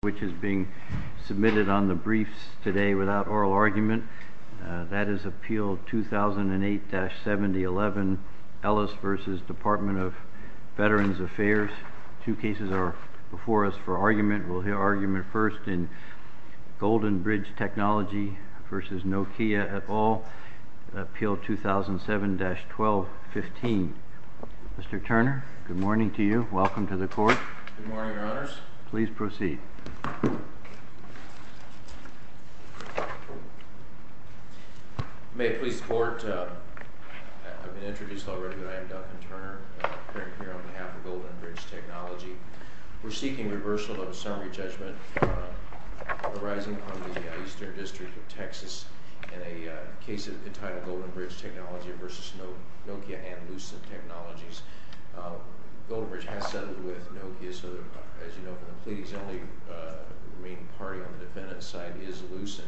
which is being submitted on the briefs today without oral argument. That is Appeal 2008-7011, Ellis v. Department of Veterans Affairs. Two cases are before us for argument. We'll hear argument first in Golden Bridge Technology v. Nokia et al. Appeal 2007-1215. Mr. Turner, good morning to you. Welcome to the court. Good morning, Your Honors. Please proceed. May it please the Court, I've been introduced already, but I am Duncan Turner, appearing here on behalf of Golden Bridge Technology. We're seeking reversal of a summary judgment arising from the Eastern District of Texas in a case entitled Golden Bridge Technology v. Nokia and Lucid Technologies. Golden Bridge has settled with Nokia, so as you know, the complete exemplary remaining party on the defendant's side is Lucid.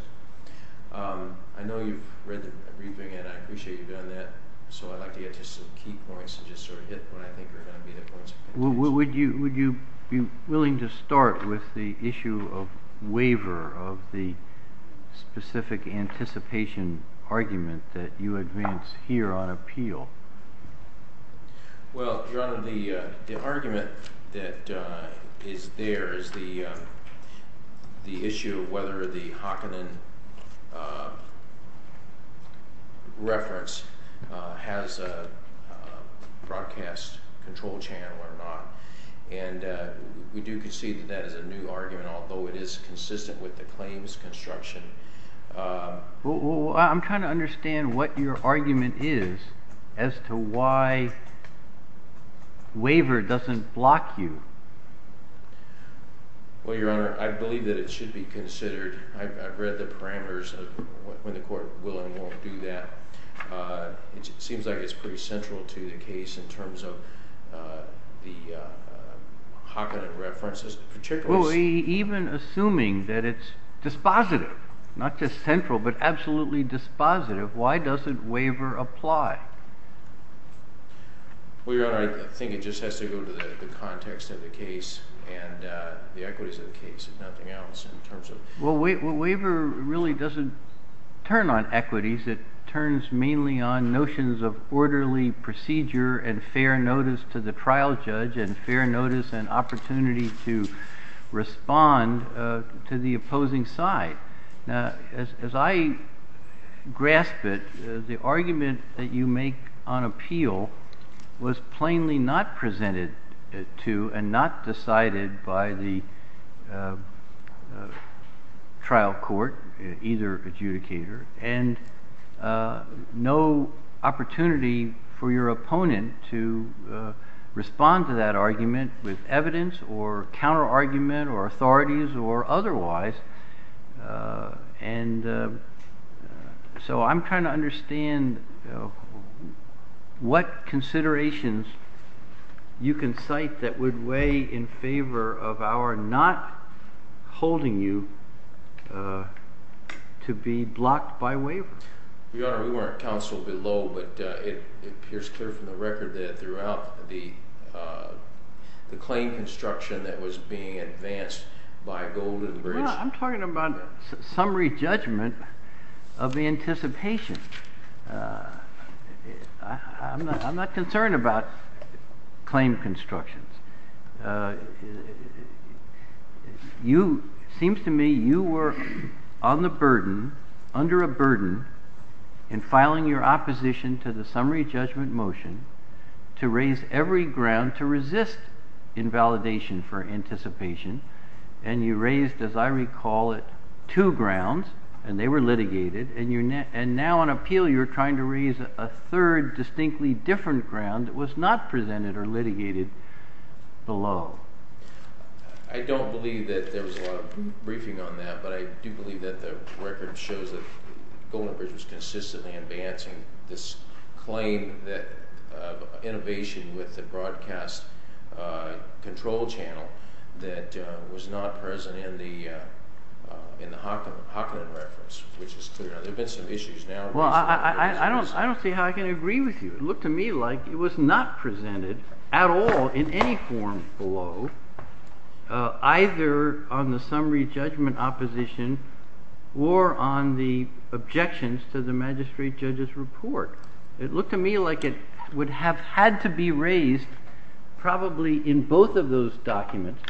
I know you've read the briefing and I appreciate you've done that, so I'd like to get to some key points and just sort of hit what I think are going to be the points of contention. Would you be willing to start with the issue of waiver of the specific anticipation argument that you advance here on appeal? Well, Your Honor, the argument that is there is the issue of whether the Hockenden reference has a broadcast control channel or not, and we do concede that that is a new argument, although it is consistent with the claims construction. Well, I'm trying to understand what your argument is as to why waiver doesn't block you. Well, Your Honor, I believe that it should be considered. I've read the parameters of when the Court will and won't do that. It seems like it's pretty central to the case in terms of the Hockenden references. Well, even assuming that it's dispositive, not just central but absolutely dispositive, why doesn't waiver apply? Well, Your Honor, I think it just has to go to the context of the case and the equities of the case and nothing else in terms of... Well, waiver really doesn't turn on equities. It turns mainly on notions of orderly procedure and fair notice to the trial judge and fair notice and opportunity to respond to the opposing side. Now, as I grasp it, the argument that you make on appeal was plainly not presented to and not decided by the trial court, either adjudicator, and no opportunity for your opponent to respond to that argument with evidence or counterargument or authorities or otherwise. And so I'm trying to understand what considerations you can cite that would weigh in favor of our not holding you to be blocked by waiver. Your Honor, we weren't counseled below, but it appears clear from the record that throughout the claim construction that was being advanced by Golden Bridge... Well, I'm talking about summary judgment of the anticipation. I'm not concerned about claim constructions. It seems to me you were under a burden in filing your opposition to the summary judgment motion to raise every ground to resist invalidation for anticipation, and you raised, as I recall it, two grounds, and they were litigated, and now on appeal you're trying to raise a third distinctly different ground that was not presented or litigated below. I don't believe that there was a lot of briefing on that, but I do believe that the record shows that Golden Bridge was consistently advancing this claim of innovation with the broadcast control channel that was not present in the Hocklin reference, which is clear. There have been some issues now... Well, I don't see how I can agree with you. It looked to me like it was not presented at all in any form below, either on the summary judgment opposition or on the objections to the magistrate judge's report. It looked to me like it would have had to be raised probably in both of those documents.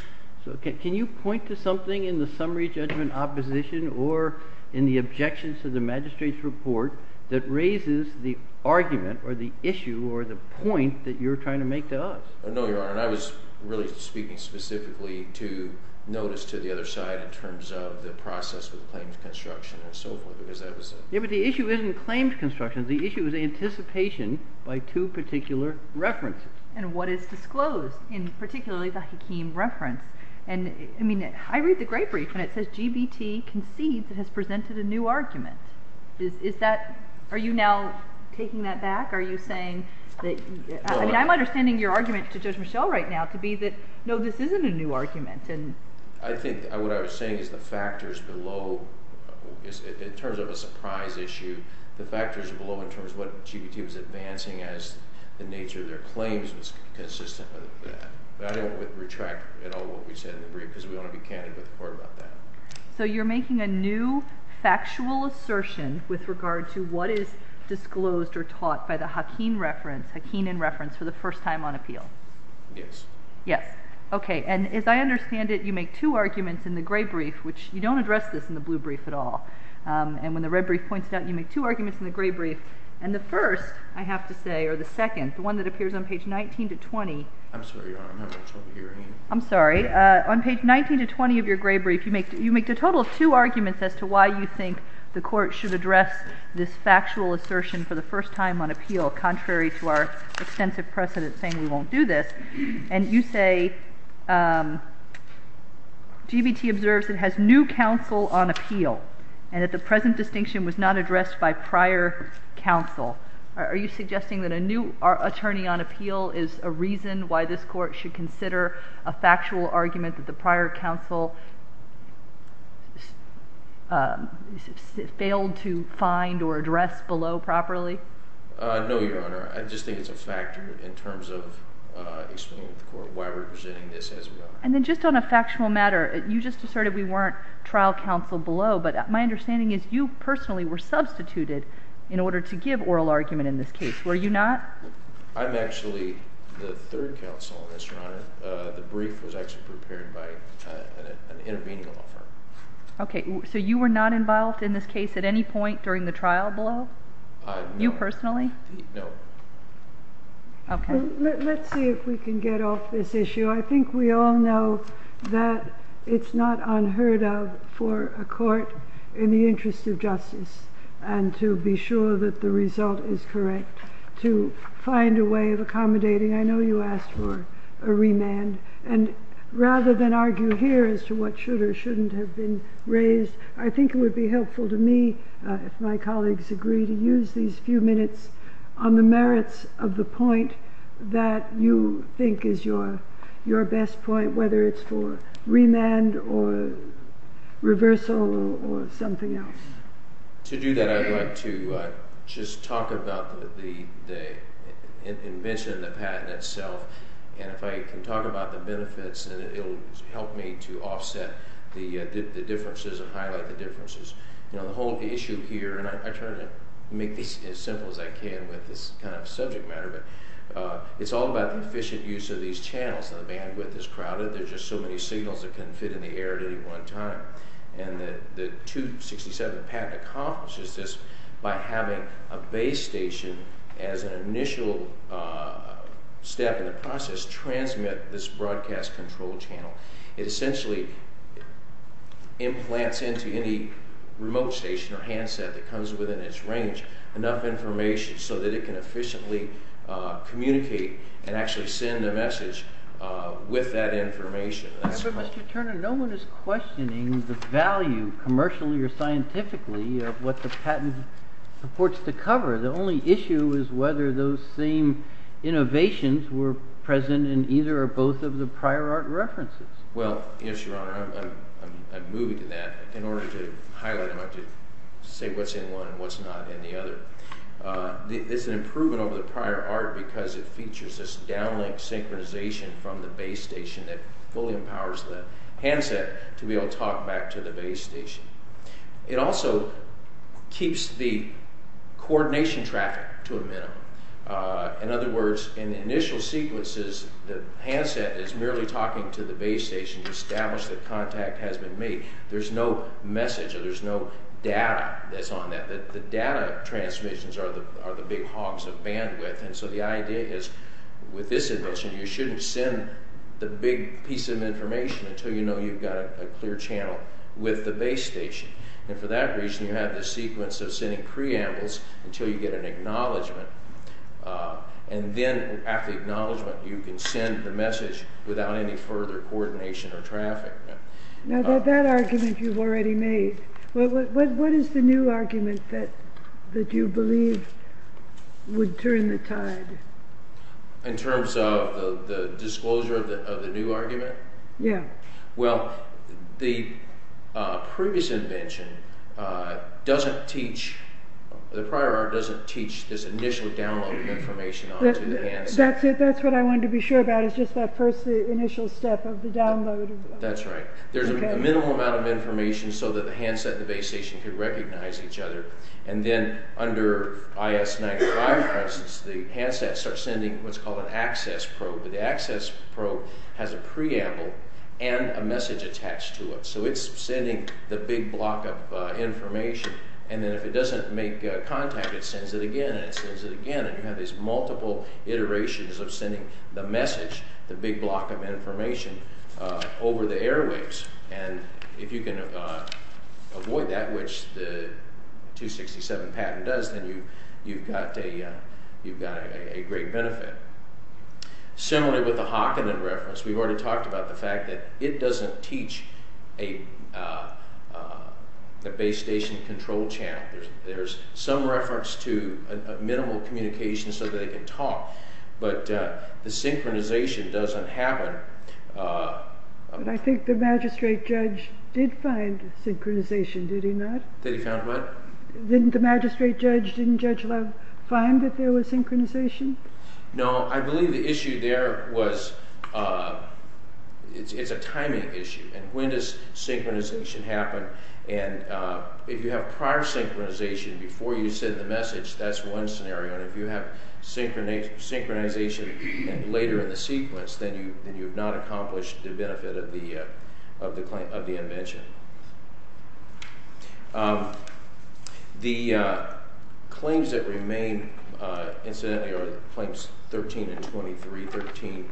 So can you point to something in the summary judgment opposition or in the objections to the magistrate's report that raises the argument or the issue or the point that you're trying to make to us? No, Your Honor, and I was really speaking specifically to notice to the other side in terms of the process with claims construction and so forth because that was... Yeah, but the issue isn't claims construction. The issue is anticipation by two particular references. And what is disclosed in particularly the Hakeem reference. I mean, I read the great brief and it says GBT concedes it has presented a new argument. Are you now taking that back? Are you saying that... I mean, I'm understanding your argument to Judge Michel right now to be that, no, this isn't a new argument. I think what I was saying is the factors below, in terms of a surprise issue, the factors below in terms of what GBT was advancing as the nature of their claims was consistent with that. But I don't retract at all what we said in the brief because we don't want to be candid with the court about that. So you're making a new factual assertion with regard to what is disclosed or taught by the Hakeem reference, Hakeem in reference, for the first time on appeal? Yes. Yes. Okay. And as I understand it, you make two arguments in the gray brief, which you don't address this in the blue brief at all. And when the red brief points it out, you make two arguments in the gray brief. And the first, I have to say, or the second, the one that appears on page 19 to 20... I'm sorry, Your Honor, I'm having trouble hearing you. I'm sorry. On page 19 to 20 of your gray brief, you make a total of two arguments as to why you think the court should address this factual assertion for the first time on appeal, contrary to our extensive precedent saying we won't do this. And you say GBT observes it has new counsel on appeal and that the present distinction was not addressed by prior counsel. Are you suggesting that a new attorney on appeal is a reason why this court should consider a factual argument that the prior counsel failed to find or address below properly? No, Your Honor. I just think it's a factor in terms of explaining to the court why we're presenting this as well. And then just on a factional matter, you just asserted we weren't trial counsel below, but my understanding is you personally were substituted in order to give oral argument in this case, were you not? I'm actually the third counsel in this, Your Honor. The brief was actually prepared by an intervening law firm. Okay. So you were not involved in this case at any point during the trial below? No. You personally? No. Okay. Let's see if we can get off this issue. I think we all know that it's not unheard of for a court in the interest of justice and to be sure that the result is correct to find a way of accommodating. I know you asked for a remand. And rather than argue here as to what should or shouldn't have been raised, I think it would be helpful to me if my colleagues agree to use these few minutes on the merits of the point that you think is your best point, whether it's for remand or reversal or something else. To do that, I'd like to just talk about the invention of the patent itself. And if I can talk about the benefits, it will help me to offset the differences and highlight the differences. The whole issue here, and I try to make this as simple as I can with this kind of subject matter, but it's all about the efficient use of these channels. The bandwidth is crowded. There are just so many signals that couldn't fit in the air at any one time. And the 267 patent accomplishes this by having a base station as an initial step in the process to transmit this broadcast control channel. It essentially implants into any remote station or handset that comes within its range enough information so that it can efficiently communicate and actually send a message with that information. But, Mr. Turner, no one is questioning the value commercially or scientifically of what the patent supports to cover. The only issue is whether those same innovations were present in either or both of the prior art references. Well, yes, Your Honor, I'm moving to that. In order to highlight them, I have to say what's in one and what's not in the other. It's an improvement over the prior art because it features this downlink synchronization from the base station that fully empowers the handset to be able to talk back to the base station. It also keeps the coordination traffic to a minimum. In other words, in the initial sequences, the handset is merely talking to the base station to establish that contact has been made. There's no message or there's no data that's on that. The data transmissions are the big hogs of bandwidth. And so the idea is with this invention, you shouldn't send the big piece of information until you know you've got a clear channel with the base station. And for that reason, you have the sequence of sending preambles until you get an acknowledgment. And then after acknowledgment, you can send the message without any further coordination or traffic. Now that argument you've already made, what is the new argument that you believe would turn the tide? In terms of the disclosure of the new argument? Yeah. Well, the previous invention doesn't teach, the prior art doesn't teach this initial download of information onto the handset. That's what I wanted to be sure about is just that first initial step of the download. That's right. There's a minimal amount of information so that the handset and the base station can recognize each other. And then under IS-95, for instance, the handset starts sending what's called an access probe. The access probe has a preamble and a message attached to it. So it's sending the big block of information. And then if it doesn't make contact, it sends it again and it sends it again. And you have these multiple iterations of sending the message, the big block of information, over the airwaves. And if you can avoid that, which the 267 patent does, then you've got a great benefit. Similarly with the Hockenden reference, we've already talked about the fact that it doesn't teach the base station control channel. There's some reference to minimal communication so that it can talk. But the synchronization doesn't happen. But I think the magistrate judge did find synchronization, did he not? Did he find what? Didn't the magistrate judge, didn't Judge Love find that there was synchronization? No, I believe the issue there was it's a timing issue. And when does synchronization happen? And if you have prior synchronization before you send the message, that's one scenario. And if you have synchronization later in the sequence, then you have not accomplished the benefit of the invention. The claims that remain, incidentally, are claims 13 and 23. 13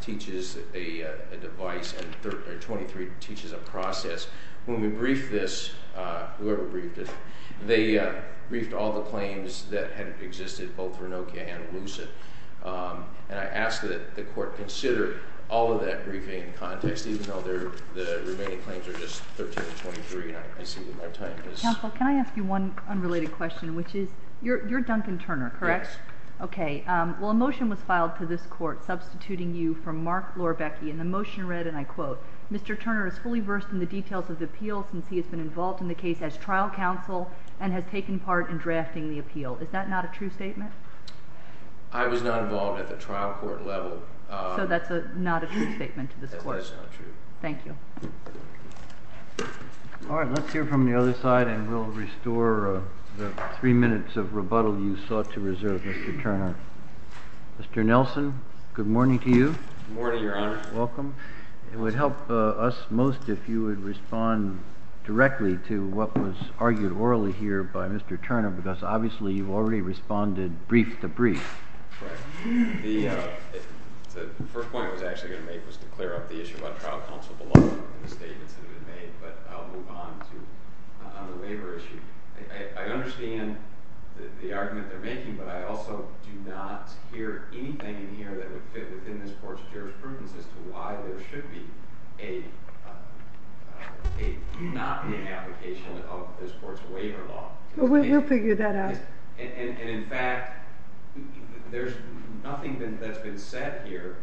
teaches a device and 23 teaches a process. When we briefed this, whoever briefed it, they briefed all the claims that had existed, both Renokia and Lucid. And I ask that the court consider all of that briefing in context, even though the remaining claims are just 13 and 23. And I see that my time has— Counsel, can I ask you one unrelated question, which is, you're Duncan Turner, correct? Yes. Okay. Well, a motion was filed to this court substituting you from Mark Lorbecki, and the motion read, and I quote, Mr. Turner is fully versed in the details of the appeal since he has been involved in the case as trial counsel and has taken part in drafting the appeal. Is that not a true statement? I was not involved at the trial court level. So that's not a true statement to this court. It was not true. Thank you. All right. Let's hear from the other side, and we'll restore the three minutes of rebuttal you sought to reserve, Mr. Turner. Mr. Nelson, good morning to you. Good morning, Your Honor. Welcome. It would help us most if you would respond directly to what was argued orally here by Mr. Turner, because obviously you've already responded brief to brief. Correct. The first point I was actually going to make was to clear up the issue about trial counsel belonging and the statements that have been made, but I'll move on to the waiver issue. I understand the argument they're making, but I also do not hear anything in here that would fit within this court's jurisprudence as to why there should be a not being an application of this court's waiver law. We'll figure that out. And, in fact, there's nothing that's been said here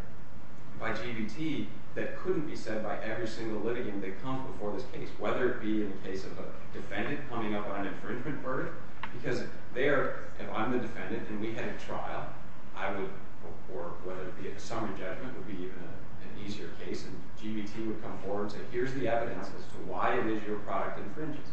by GBT that couldn't be said by every single litigant that comes before this case, whether it be in the case of a defendant coming up on an infringement verdict. Because if I'm the defendant and we had a trial, or whether it be a summary judgment would be an easier case, and GBT would come forward and say, here's the evidence as to why it is your product infringes.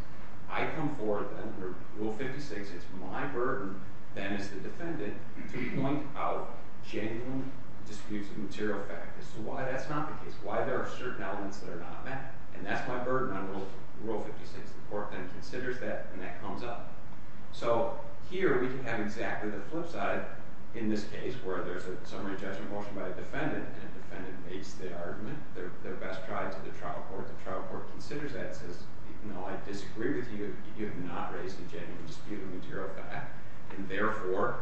I come forward then, Rule 56, it's my burden then as the defendant to point out genuine disputes of material fact as to why that's not the case, why there are certain elements that are not met. And that's my burden on Rule 56. The court then considers that, and that comes up. So here we can have exactly the flip side in this case where there's a summary judgment motion by a defendant, and the defendant makes the argument. They're best tried to the trial court. The trial court considers that and says, no, I disagree with you. You have not raised a genuine dispute of material fact, and therefore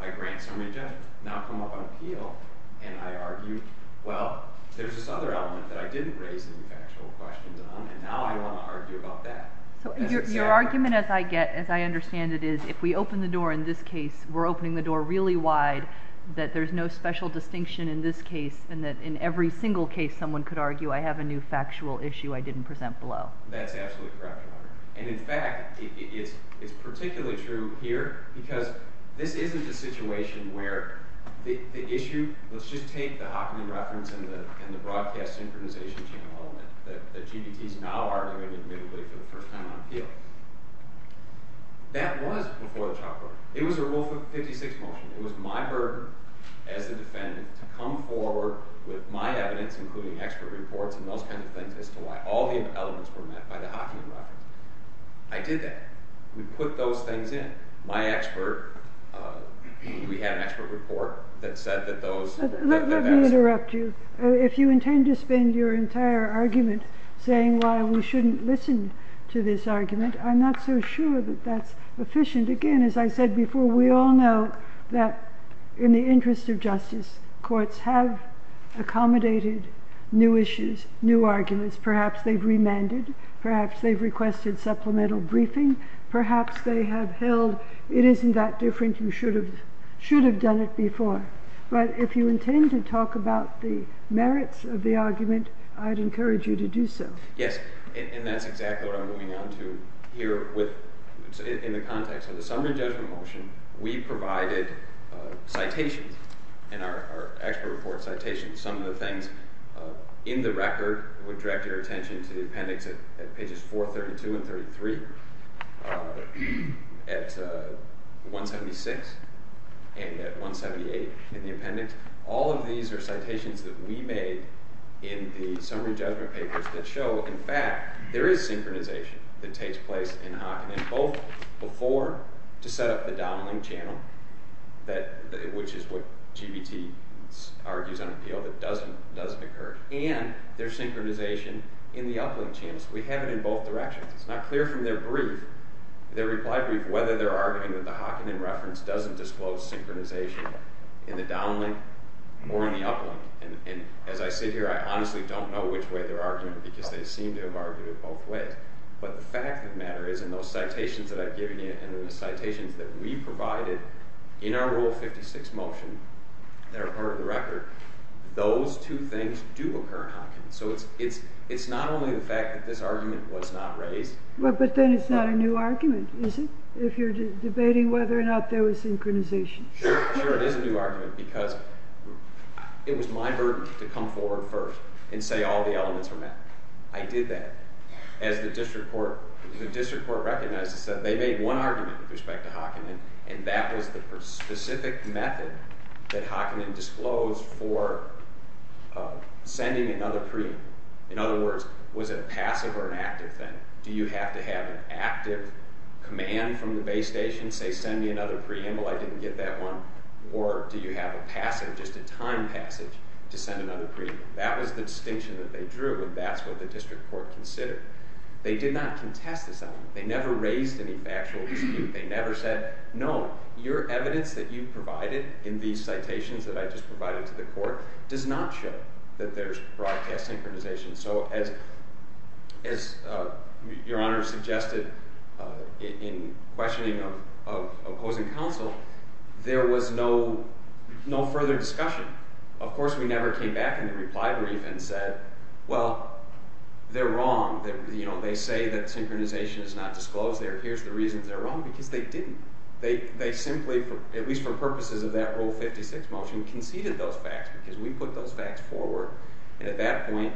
I grant summary judgment. Now come up on appeal, and I argue, well, there's this other element that I didn't raise any factual questions on, and now I want to argue about that. So your argument, as I understand it, is if we open the door in this case, we're opening the door really wide, that there's no special distinction in this case, and that in every single case someone could argue, I have a new factual issue I didn't present below. That's absolutely correct, Your Honor. And in fact, it's particularly true here because this isn't a situation where the issue, let's just take the Hockney reference and the broadcast synchronization channel element that GBT is now arguing admittedly for the first time on appeal. That was before the trial court. It was a Rule 56 motion. It was my burden as a defendant to come forward with my evidence, including expert reports and those kinds of things as to why all the elements were met by the Hockney reference. I did that. We put those things in. My expert, we had an expert report that said that those Let me interrupt you. If you intend to spend your entire argument saying why we shouldn't listen to this argument, I'm not so sure that that's efficient. Again, as I said before, we all know that in the interest of justice, courts have accommodated new issues, new arguments. Perhaps they've remanded. Perhaps they've requested supplemental briefing. Perhaps they have held it isn't that different. You should have done it before. But if you intend to talk about the merits of the argument, I'd encourage you to do so. Yes, and that's exactly what I'm moving on to here in the context of the summary judgment motion. We provided citations in our expert report citations. Some of the things in the record would direct your attention to the appendix at pages 432 and 33, at 176, and at 178 in the appendix. All of these are citations that we made in the summary judgment papers that show, in fact, there is synchronization that takes place in Hocken and both before to set up the downlink channel, which is what GBT argues on appeal that doesn't occur, and there's synchronization in the uplink channel. So we have it in both directions. It's not clear from their brief, their reply brief, whether they're arguing that the Hocken in reference doesn't disclose synchronization in the downlink or in the uplink. And as I sit here, I honestly don't know which way they're arguing because they seem to have argued it both ways. But the fact of the matter is in those citations that I've given you and in the citations that we provided in our Rule 56 motion that are part of the record, those two things do occur in Hocken. So it's not only the fact that this argument was not raised. But then it's not a new argument, is it? If you're debating whether or not there was synchronization. Sure, it is a new argument because it was my burden to come forward first and say all the elements are met. I did that. As the district court recognized, they made one argument with respect to Hocken, and that was the specific method that Hocken disclosed for sending another preamble. In other words, was it a passive or an active thing? Do you have to have an active command from the base station, say, send me another preamble? I didn't get that one. Or do you have a passive, just a timed passage to send another preamble? That was the distinction that they drew, and that's what the district court considered. They did not contest this element. They never raised any factual dispute. They never said, no, your evidence that you provided in these citations that I just provided to the court does not show that there's broadcast synchronization. So as your Honor suggested in questioning of opposing counsel, there was no further discussion. Of course, we never came back in the reply brief and said, well, they're wrong. They say that synchronization is not disclosed. Here's the reason they're wrong because they didn't. They simply, at least for purposes of that Rule 56 motion, conceded those facts because we put those facts forward. And at that point,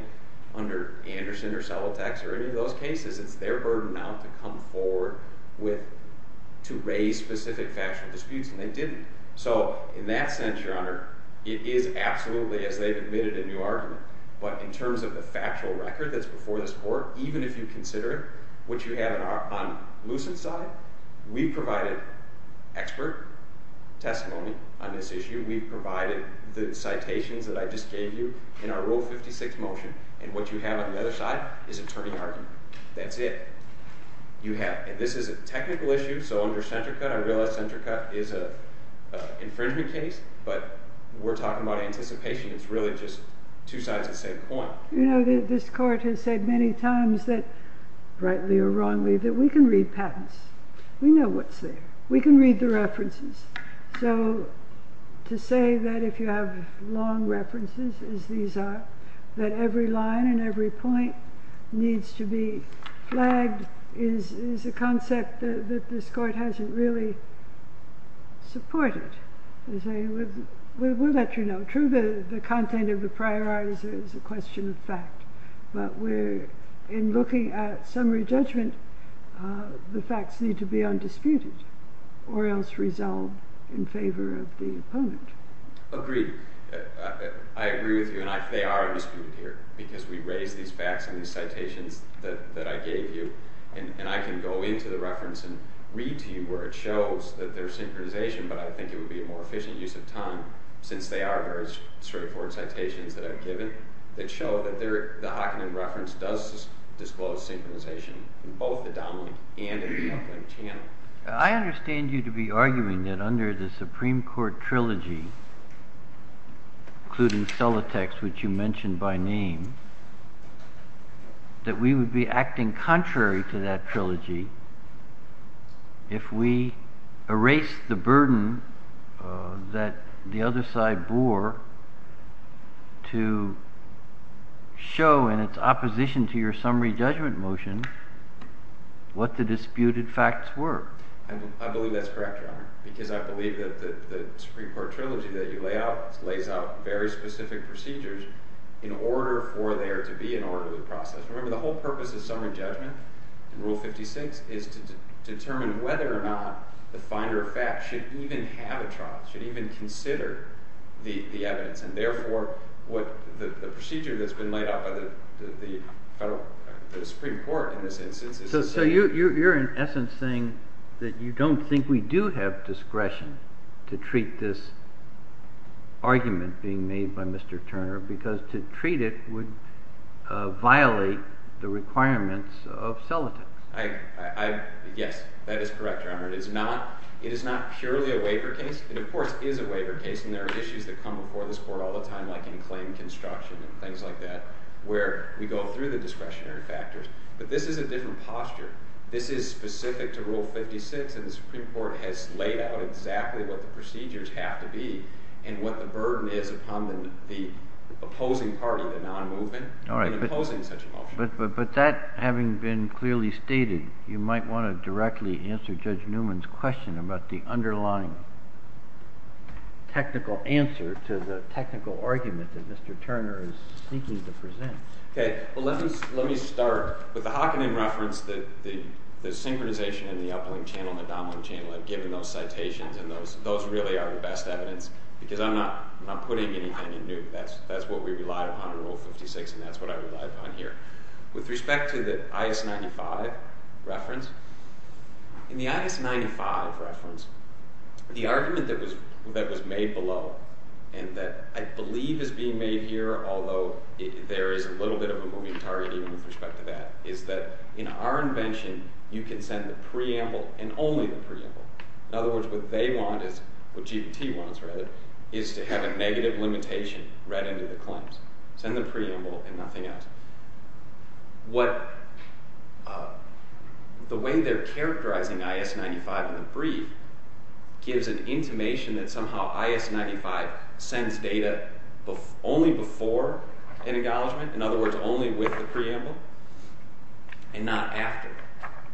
under Anderson or Celotax or any of those cases, it's their burden now to come forward to raise specific factual disputes, and they didn't. So in that sense, your Honor, it is absolutely as they've admitted a new argument. But in terms of the factual record that's before this court, even if you consider it, what you have on Lucent's side, we provided expert testimony on this issue. We provided the citations that I just gave you in our Rule 56 motion. And what you have on the other side is attorney argument. That's it. You have—and this is a technical issue, so under Centrica, I realize Centrica is an infringement case, but we're talking about anticipation. It's really just two sides of the same coin. You know, this court has said many times that, rightly or wrongly, that we can read patents. We know what's there. We can read the references. So to say that if you have long references, as these are, that every line and every point needs to be flagged is a concept that this court hasn't really supported. We'll let you know. True, the content of the prior art is a question of fact. But we're—in looking at summary judgment, the facts need to be undisputed or else resolved in favor of the opponent. Agreed. I agree with you, and they are undisputed here because we raised these facts and these citations that I gave you. And I can go into the reference and read to you where it shows that there's synchronization, but I think it would be a more efficient use of time since they are very straightforward citations that I've given that show that the Hockenheim reference does disclose synchronization in both the dominant and in the opulent channel. I understand you to be arguing that under the Supreme Court trilogy, including Solitex, which you mentioned by name, that we would be acting contrary to that trilogy if we erased the burden that the other side bore to show in its opposition to your summary judgment motion what the disputed facts were. I believe that's correct, Your Honor, because I believe that the Supreme Court trilogy that you lay out very specific procedures in order for there to be an orderly process. Remember, the whole purpose of summary judgment in Rule 56 is to determine whether or not the finder of facts should even have a trial, should even consider the evidence. And therefore, the procedure that's been laid out by the Supreme Court in this instance is to say— to treat this argument being made by Mr. Turner because to treat it would violate the requirements of Solitex. Yes, that is correct, Your Honor. It is not purely a waiver case. It, of course, is a waiver case, and there are issues that come before this Court all the time, like in claim construction and things like that, where we go through the discretionary factors. But this is a different posture. This is specific to Rule 56, and the Supreme Court has laid out exactly what the procedures have to be and what the burden is upon the opposing party, the non-movement, in imposing such a motion. But that having been clearly stated, you might want to directly answer Judge Newman's question about the underlying technical answer to the technical argument that Mr. Turner is seeking to present. Okay. Well, let me start with the Hockenheim reference that the synchronization in the Uplink Channel and the Domlink Channel have given those citations, and those really are the best evidence, because I'm not putting anything in new. That's what we relied upon in Rule 56, and that's what I relied upon here. With respect to the I.S. 95 reference, in the I.S. 95 reference, the argument that was made below and that I believe is being made here, although there is a little bit of a moving target even with respect to that, is that in our invention, you can send the preamble and only the preamble. In other words, what they want is, what GPT wants, rather, is to have a negative limitation right into the claims. Send the preamble and nothing else. The way they're characterizing I.S. 95 in the brief gives an intimation that somehow I.S. 95 sends data only before an engagement, in other words, only with the preamble, and not after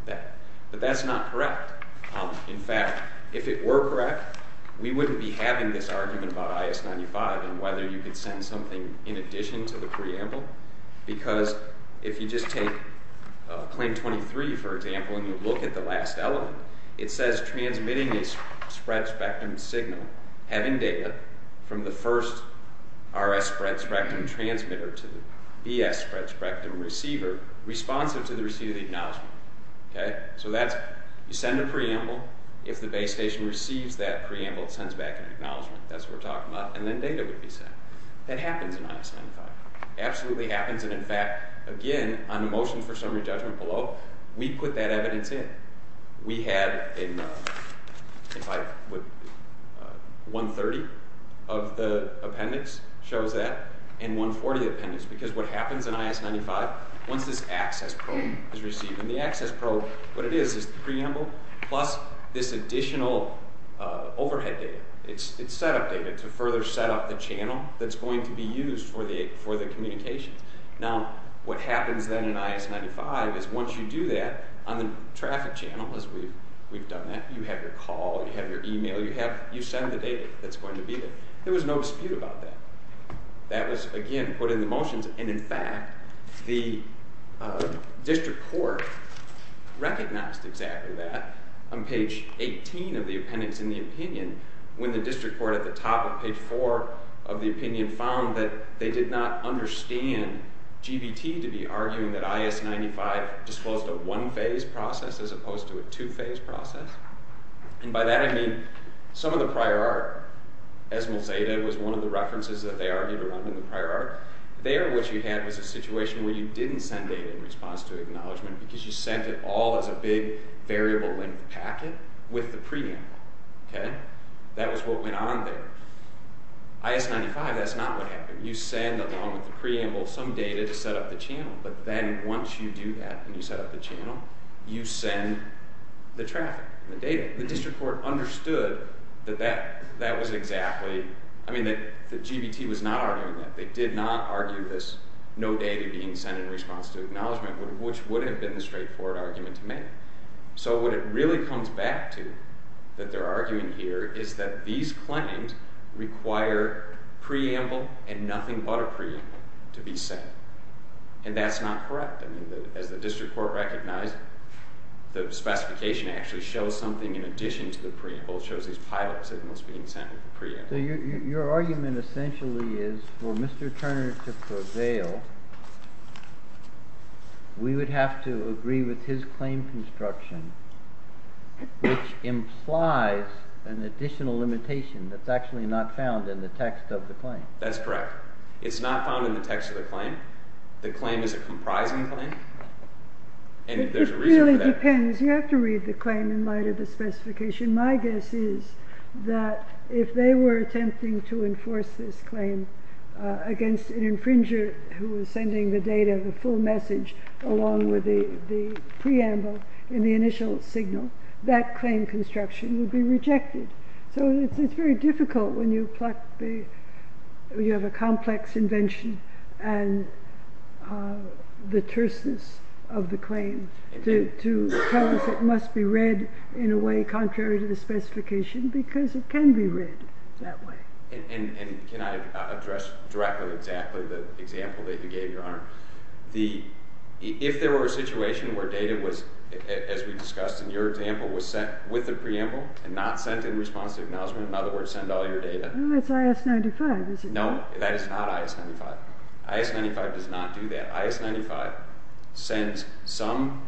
that, but that's not correct. In fact, if it were correct, we wouldn't be having this argument about I.S. 95 and whether you could send something in addition to the preamble, because if you just take Claim 23, for example, and you look at the last element, it says transmitting a spread-spectrum signal having data from the first R.S. spread-spectrum transmitter to the B.S. spread-spectrum receiver responsive to the receipt of the acknowledgment. You send a preamble. If the base station receives that preamble, it sends back an acknowledgment. That's what we're talking about, and then data would be sent. That happens in I.S. 95. It absolutely happens, and in fact, again, on the motion for summary judgment below, we put that evidence in. We had in, if I would, 130 of the appendix shows that and 140 of the appendix, because what happens in I.S. 95, once this access probe is received, and the access probe, what it is is the preamble plus this additional overhead data. It's setup data to further setup the channel that's going to be used for the communication. Now, what happens then in I.S. 95 is once you do that, on the traffic channel, as we've done that, you have your call, you have your email, you send the data that's going to be there. There was no dispute about that. That was, again, put in the motions, and in fact, the district court recognized exactly that on page 18 of the appendix in the opinion, when the district court at the top of page 4 of the opinion found that they did not understand GVT to be arguing that I.S. 95 disclosed a one-phase process as opposed to a two-phase process. And by that I mean some of the prior art. Esmol Zeta was one of the references that they argued around in the prior art. There what you had was a situation where you didn't send data in response to acknowledgement because you sent it all as a big variable-length packet with the preamble. That was what went on there. I.S. 95, that's not what happened. You send along with the preamble some data to setup the channel, but then once you do that and you setup the channel, you send the traffic and the data. The district court understood that that was exactly, I mean, that GVT was not arguing that. They did not argue this no data being sent in response to acknowledgement, which would have been a straightforward argument to make. So what it really comes back to that they're arguing here is that these claims require preamble and nothing but a preamble to be sent. And that's not correct. I mean, as the district court recognized, the specification actually shows something in addition to the preamble. It shows these pilots that must be sent with the preamble. So your argument essentially is for Mr. Turner to prevail, we would have to agree with his claim construction, which implies an additional limitation that's actually not found in the text of the claim. That's correct. It's not found in the text of the claim. The claim is a comprising claim. And there's a reason for that. It really depends. You have to read the claim in light of the specification. My guess is that if they were attempting to enforce this claim against an infringer who was sending the data, the full message, along with the preamble in the initial signal, that claim construction would be rejected. So it's very difficult when you have a complex invention and the terseness of the claim to tell us it must be read in a way contrary to the specification, because it can be read that way. And can I address directly exactly the example that you gave, Your Honor? If there were a situation where data was, as we discussed in your example, was sent with the preamble and not sent in response to acknowledgment, in other words, send all your data. That's I.S. 95, isn't it? No, that is not I.S. 95. I.S. 95 does not do that. I.S. 95 sends some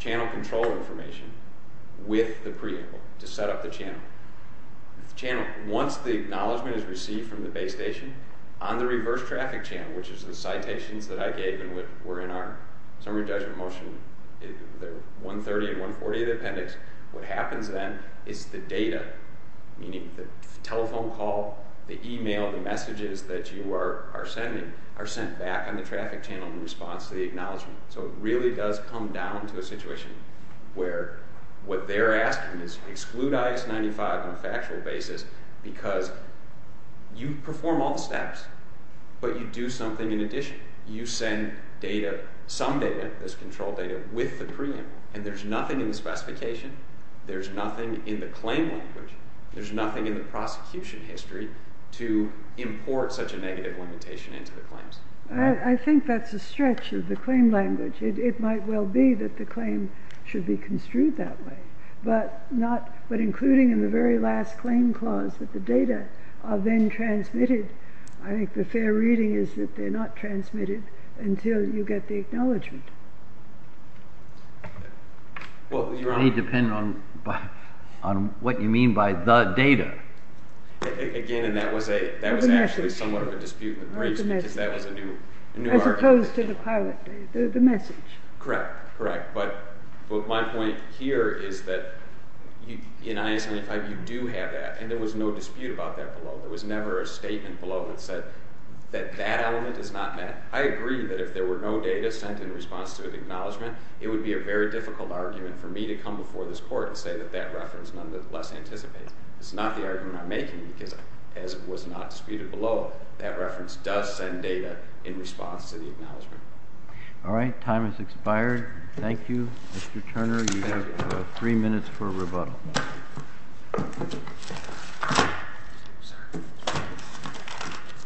channel control information with the preamble to set up the channel. Once the acknowledgment is received from the base station, on the reverse traffic channel, which is the citations that I gave and were in our summary judgment motion, the 130 and 140 of the appendix, what happens then is the data, meaning the telephone call, the e-mail, the messages that you are sending are sent back on the traffic channel in response to the acknowledgment. So it really does come down to a situation where what they're asking is exclude I.S. 95 on a factual basis because you perform all the steps, but you do something in addition. You send some data, this control data, with the preamble, and there's nothing in the specification. There's nothing in the claim language. There's nothing in the prosecution history to import such a negative limitation into the claims. I think that's a stretch of the claim language. It might well be that the claim should be construed that way, but including in the very last claim clause that the data are then transmitted, I think the fair reading is that they're not transmitted until you get the acknowledgment. It may depend on what you mean by the data. Again, and that was actually somewhat of a dispute in the briefs because that was a new argument. As opposed to the pilot data, the message. Correct. But my point here is that in I.S. 95 you do have that, and there was no dispute about that below. There was never a statement below that said that that element is not met. I agree that if there were no data sent in response to an acknowledgment, it would be a very difficult argument for me to come before this court and say that that reference nonetheless anticipates. It's not the argument I'm making because, as was not disputed below, that reference does send data in response to the acknowledgment. All right. Time has expired. Thank you, Mr. Turner. You have three minutes for rebuttal.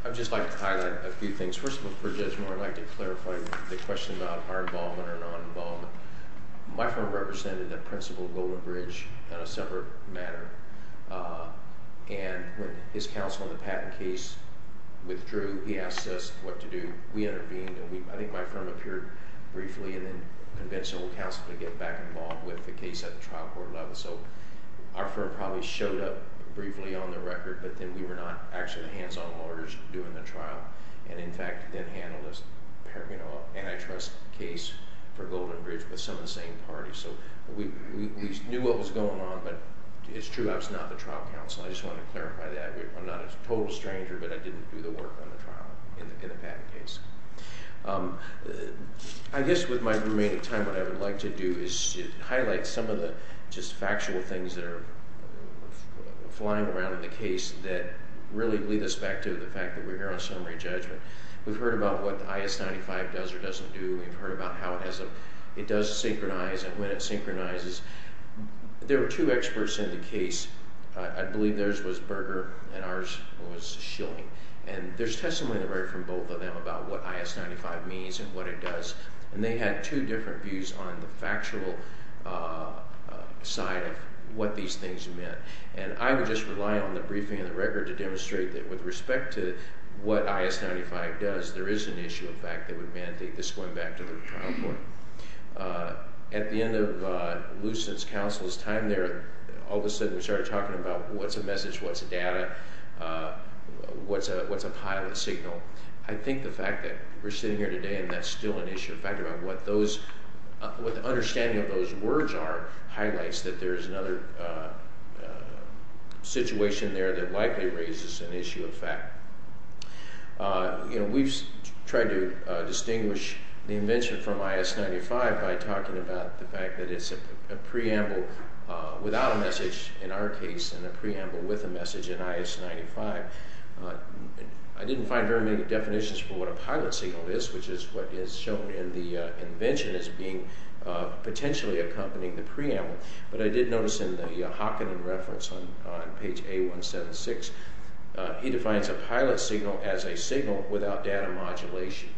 I'd just like to highlight a few things. First of all, for Judge Moore, I'd like to clarify the question about our involvement or non-involvement. My firm represented the principle of Golden Bridge in a separate manner, and when his counsel on the patent case withdrew, he asked us what to do. We intervened, and I think my firm appeared briefly and then convinced our counsel to get back involved with the case at the trial court level. So our firm probably showed up briefly on the record, but then we were not actually the hands-on lawyers doing the trial and, in fact, then handled an antitrust case for Golden Bridge with some of the same parties. So we knew what was going on, but it's true I was not the trial counsel. I just wanted to clarify that. I'm not a total stranger, but I didn't do the work on the trial in the patent case. I guess with my remaining time, what I would like to do is highlight some of the factual things that are flying around in the case that really lead us back to the fact that we're here on summary judgment. We've heard about what the I.S. 95 does or doesn't do. We've heard about how it does synchronize and when it synchronizes. There were two experts in the case. I believe theirs was Berger and ours was Schilling, and there's testimony that I've heard from both of them about what I.S. 95 means and what it does, and they had two different views on the factual side of what these things meant. And I would just rely on the briefing and the record to demonstrate that with respect to what I.S. 95 does, there is an issue of fact that would mandate this going back to the trial court. At the end of Lucent's counsel's time there, all of a sudden we started talking about what's a message, what's a data, what's a pilot signal. I think the fact that we're sitting here today and that's still an issue of fact about what the understanding of those words are highlights that there is another situation there that likely raises an issue of fact. We've tried to distinguish the invention from I.S. 95 by talking about the fact that it's a preamble without a message in our case and a preamble with a message in I.S. 95. I didn't find very many definitions for what a pilot signal is, which is what is shown in the invention as being potentially accompanying the preamble, but I did notice in the Hockenden reference on page A176, he defines a pilot signal as a signal without data modulation.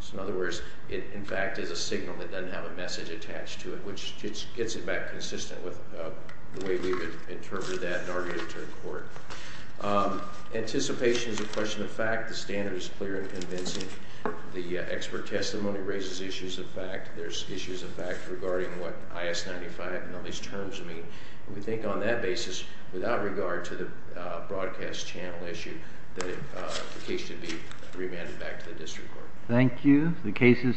So in other words, it in fact is a signal that doesn't have a message attached to it, which gets it back consistent with the way we've interpreted that in our return to court. Anticipation is a question of fact. The standard is clear and convincing. The expert testimony raises issues of fact. There's issues of fact regarding what I.S. 95 and all these terms mean. We think on that basis, without regard to the broadcast channel issue, that the case should be remanded back to the district court. Thank you. The case is submitted.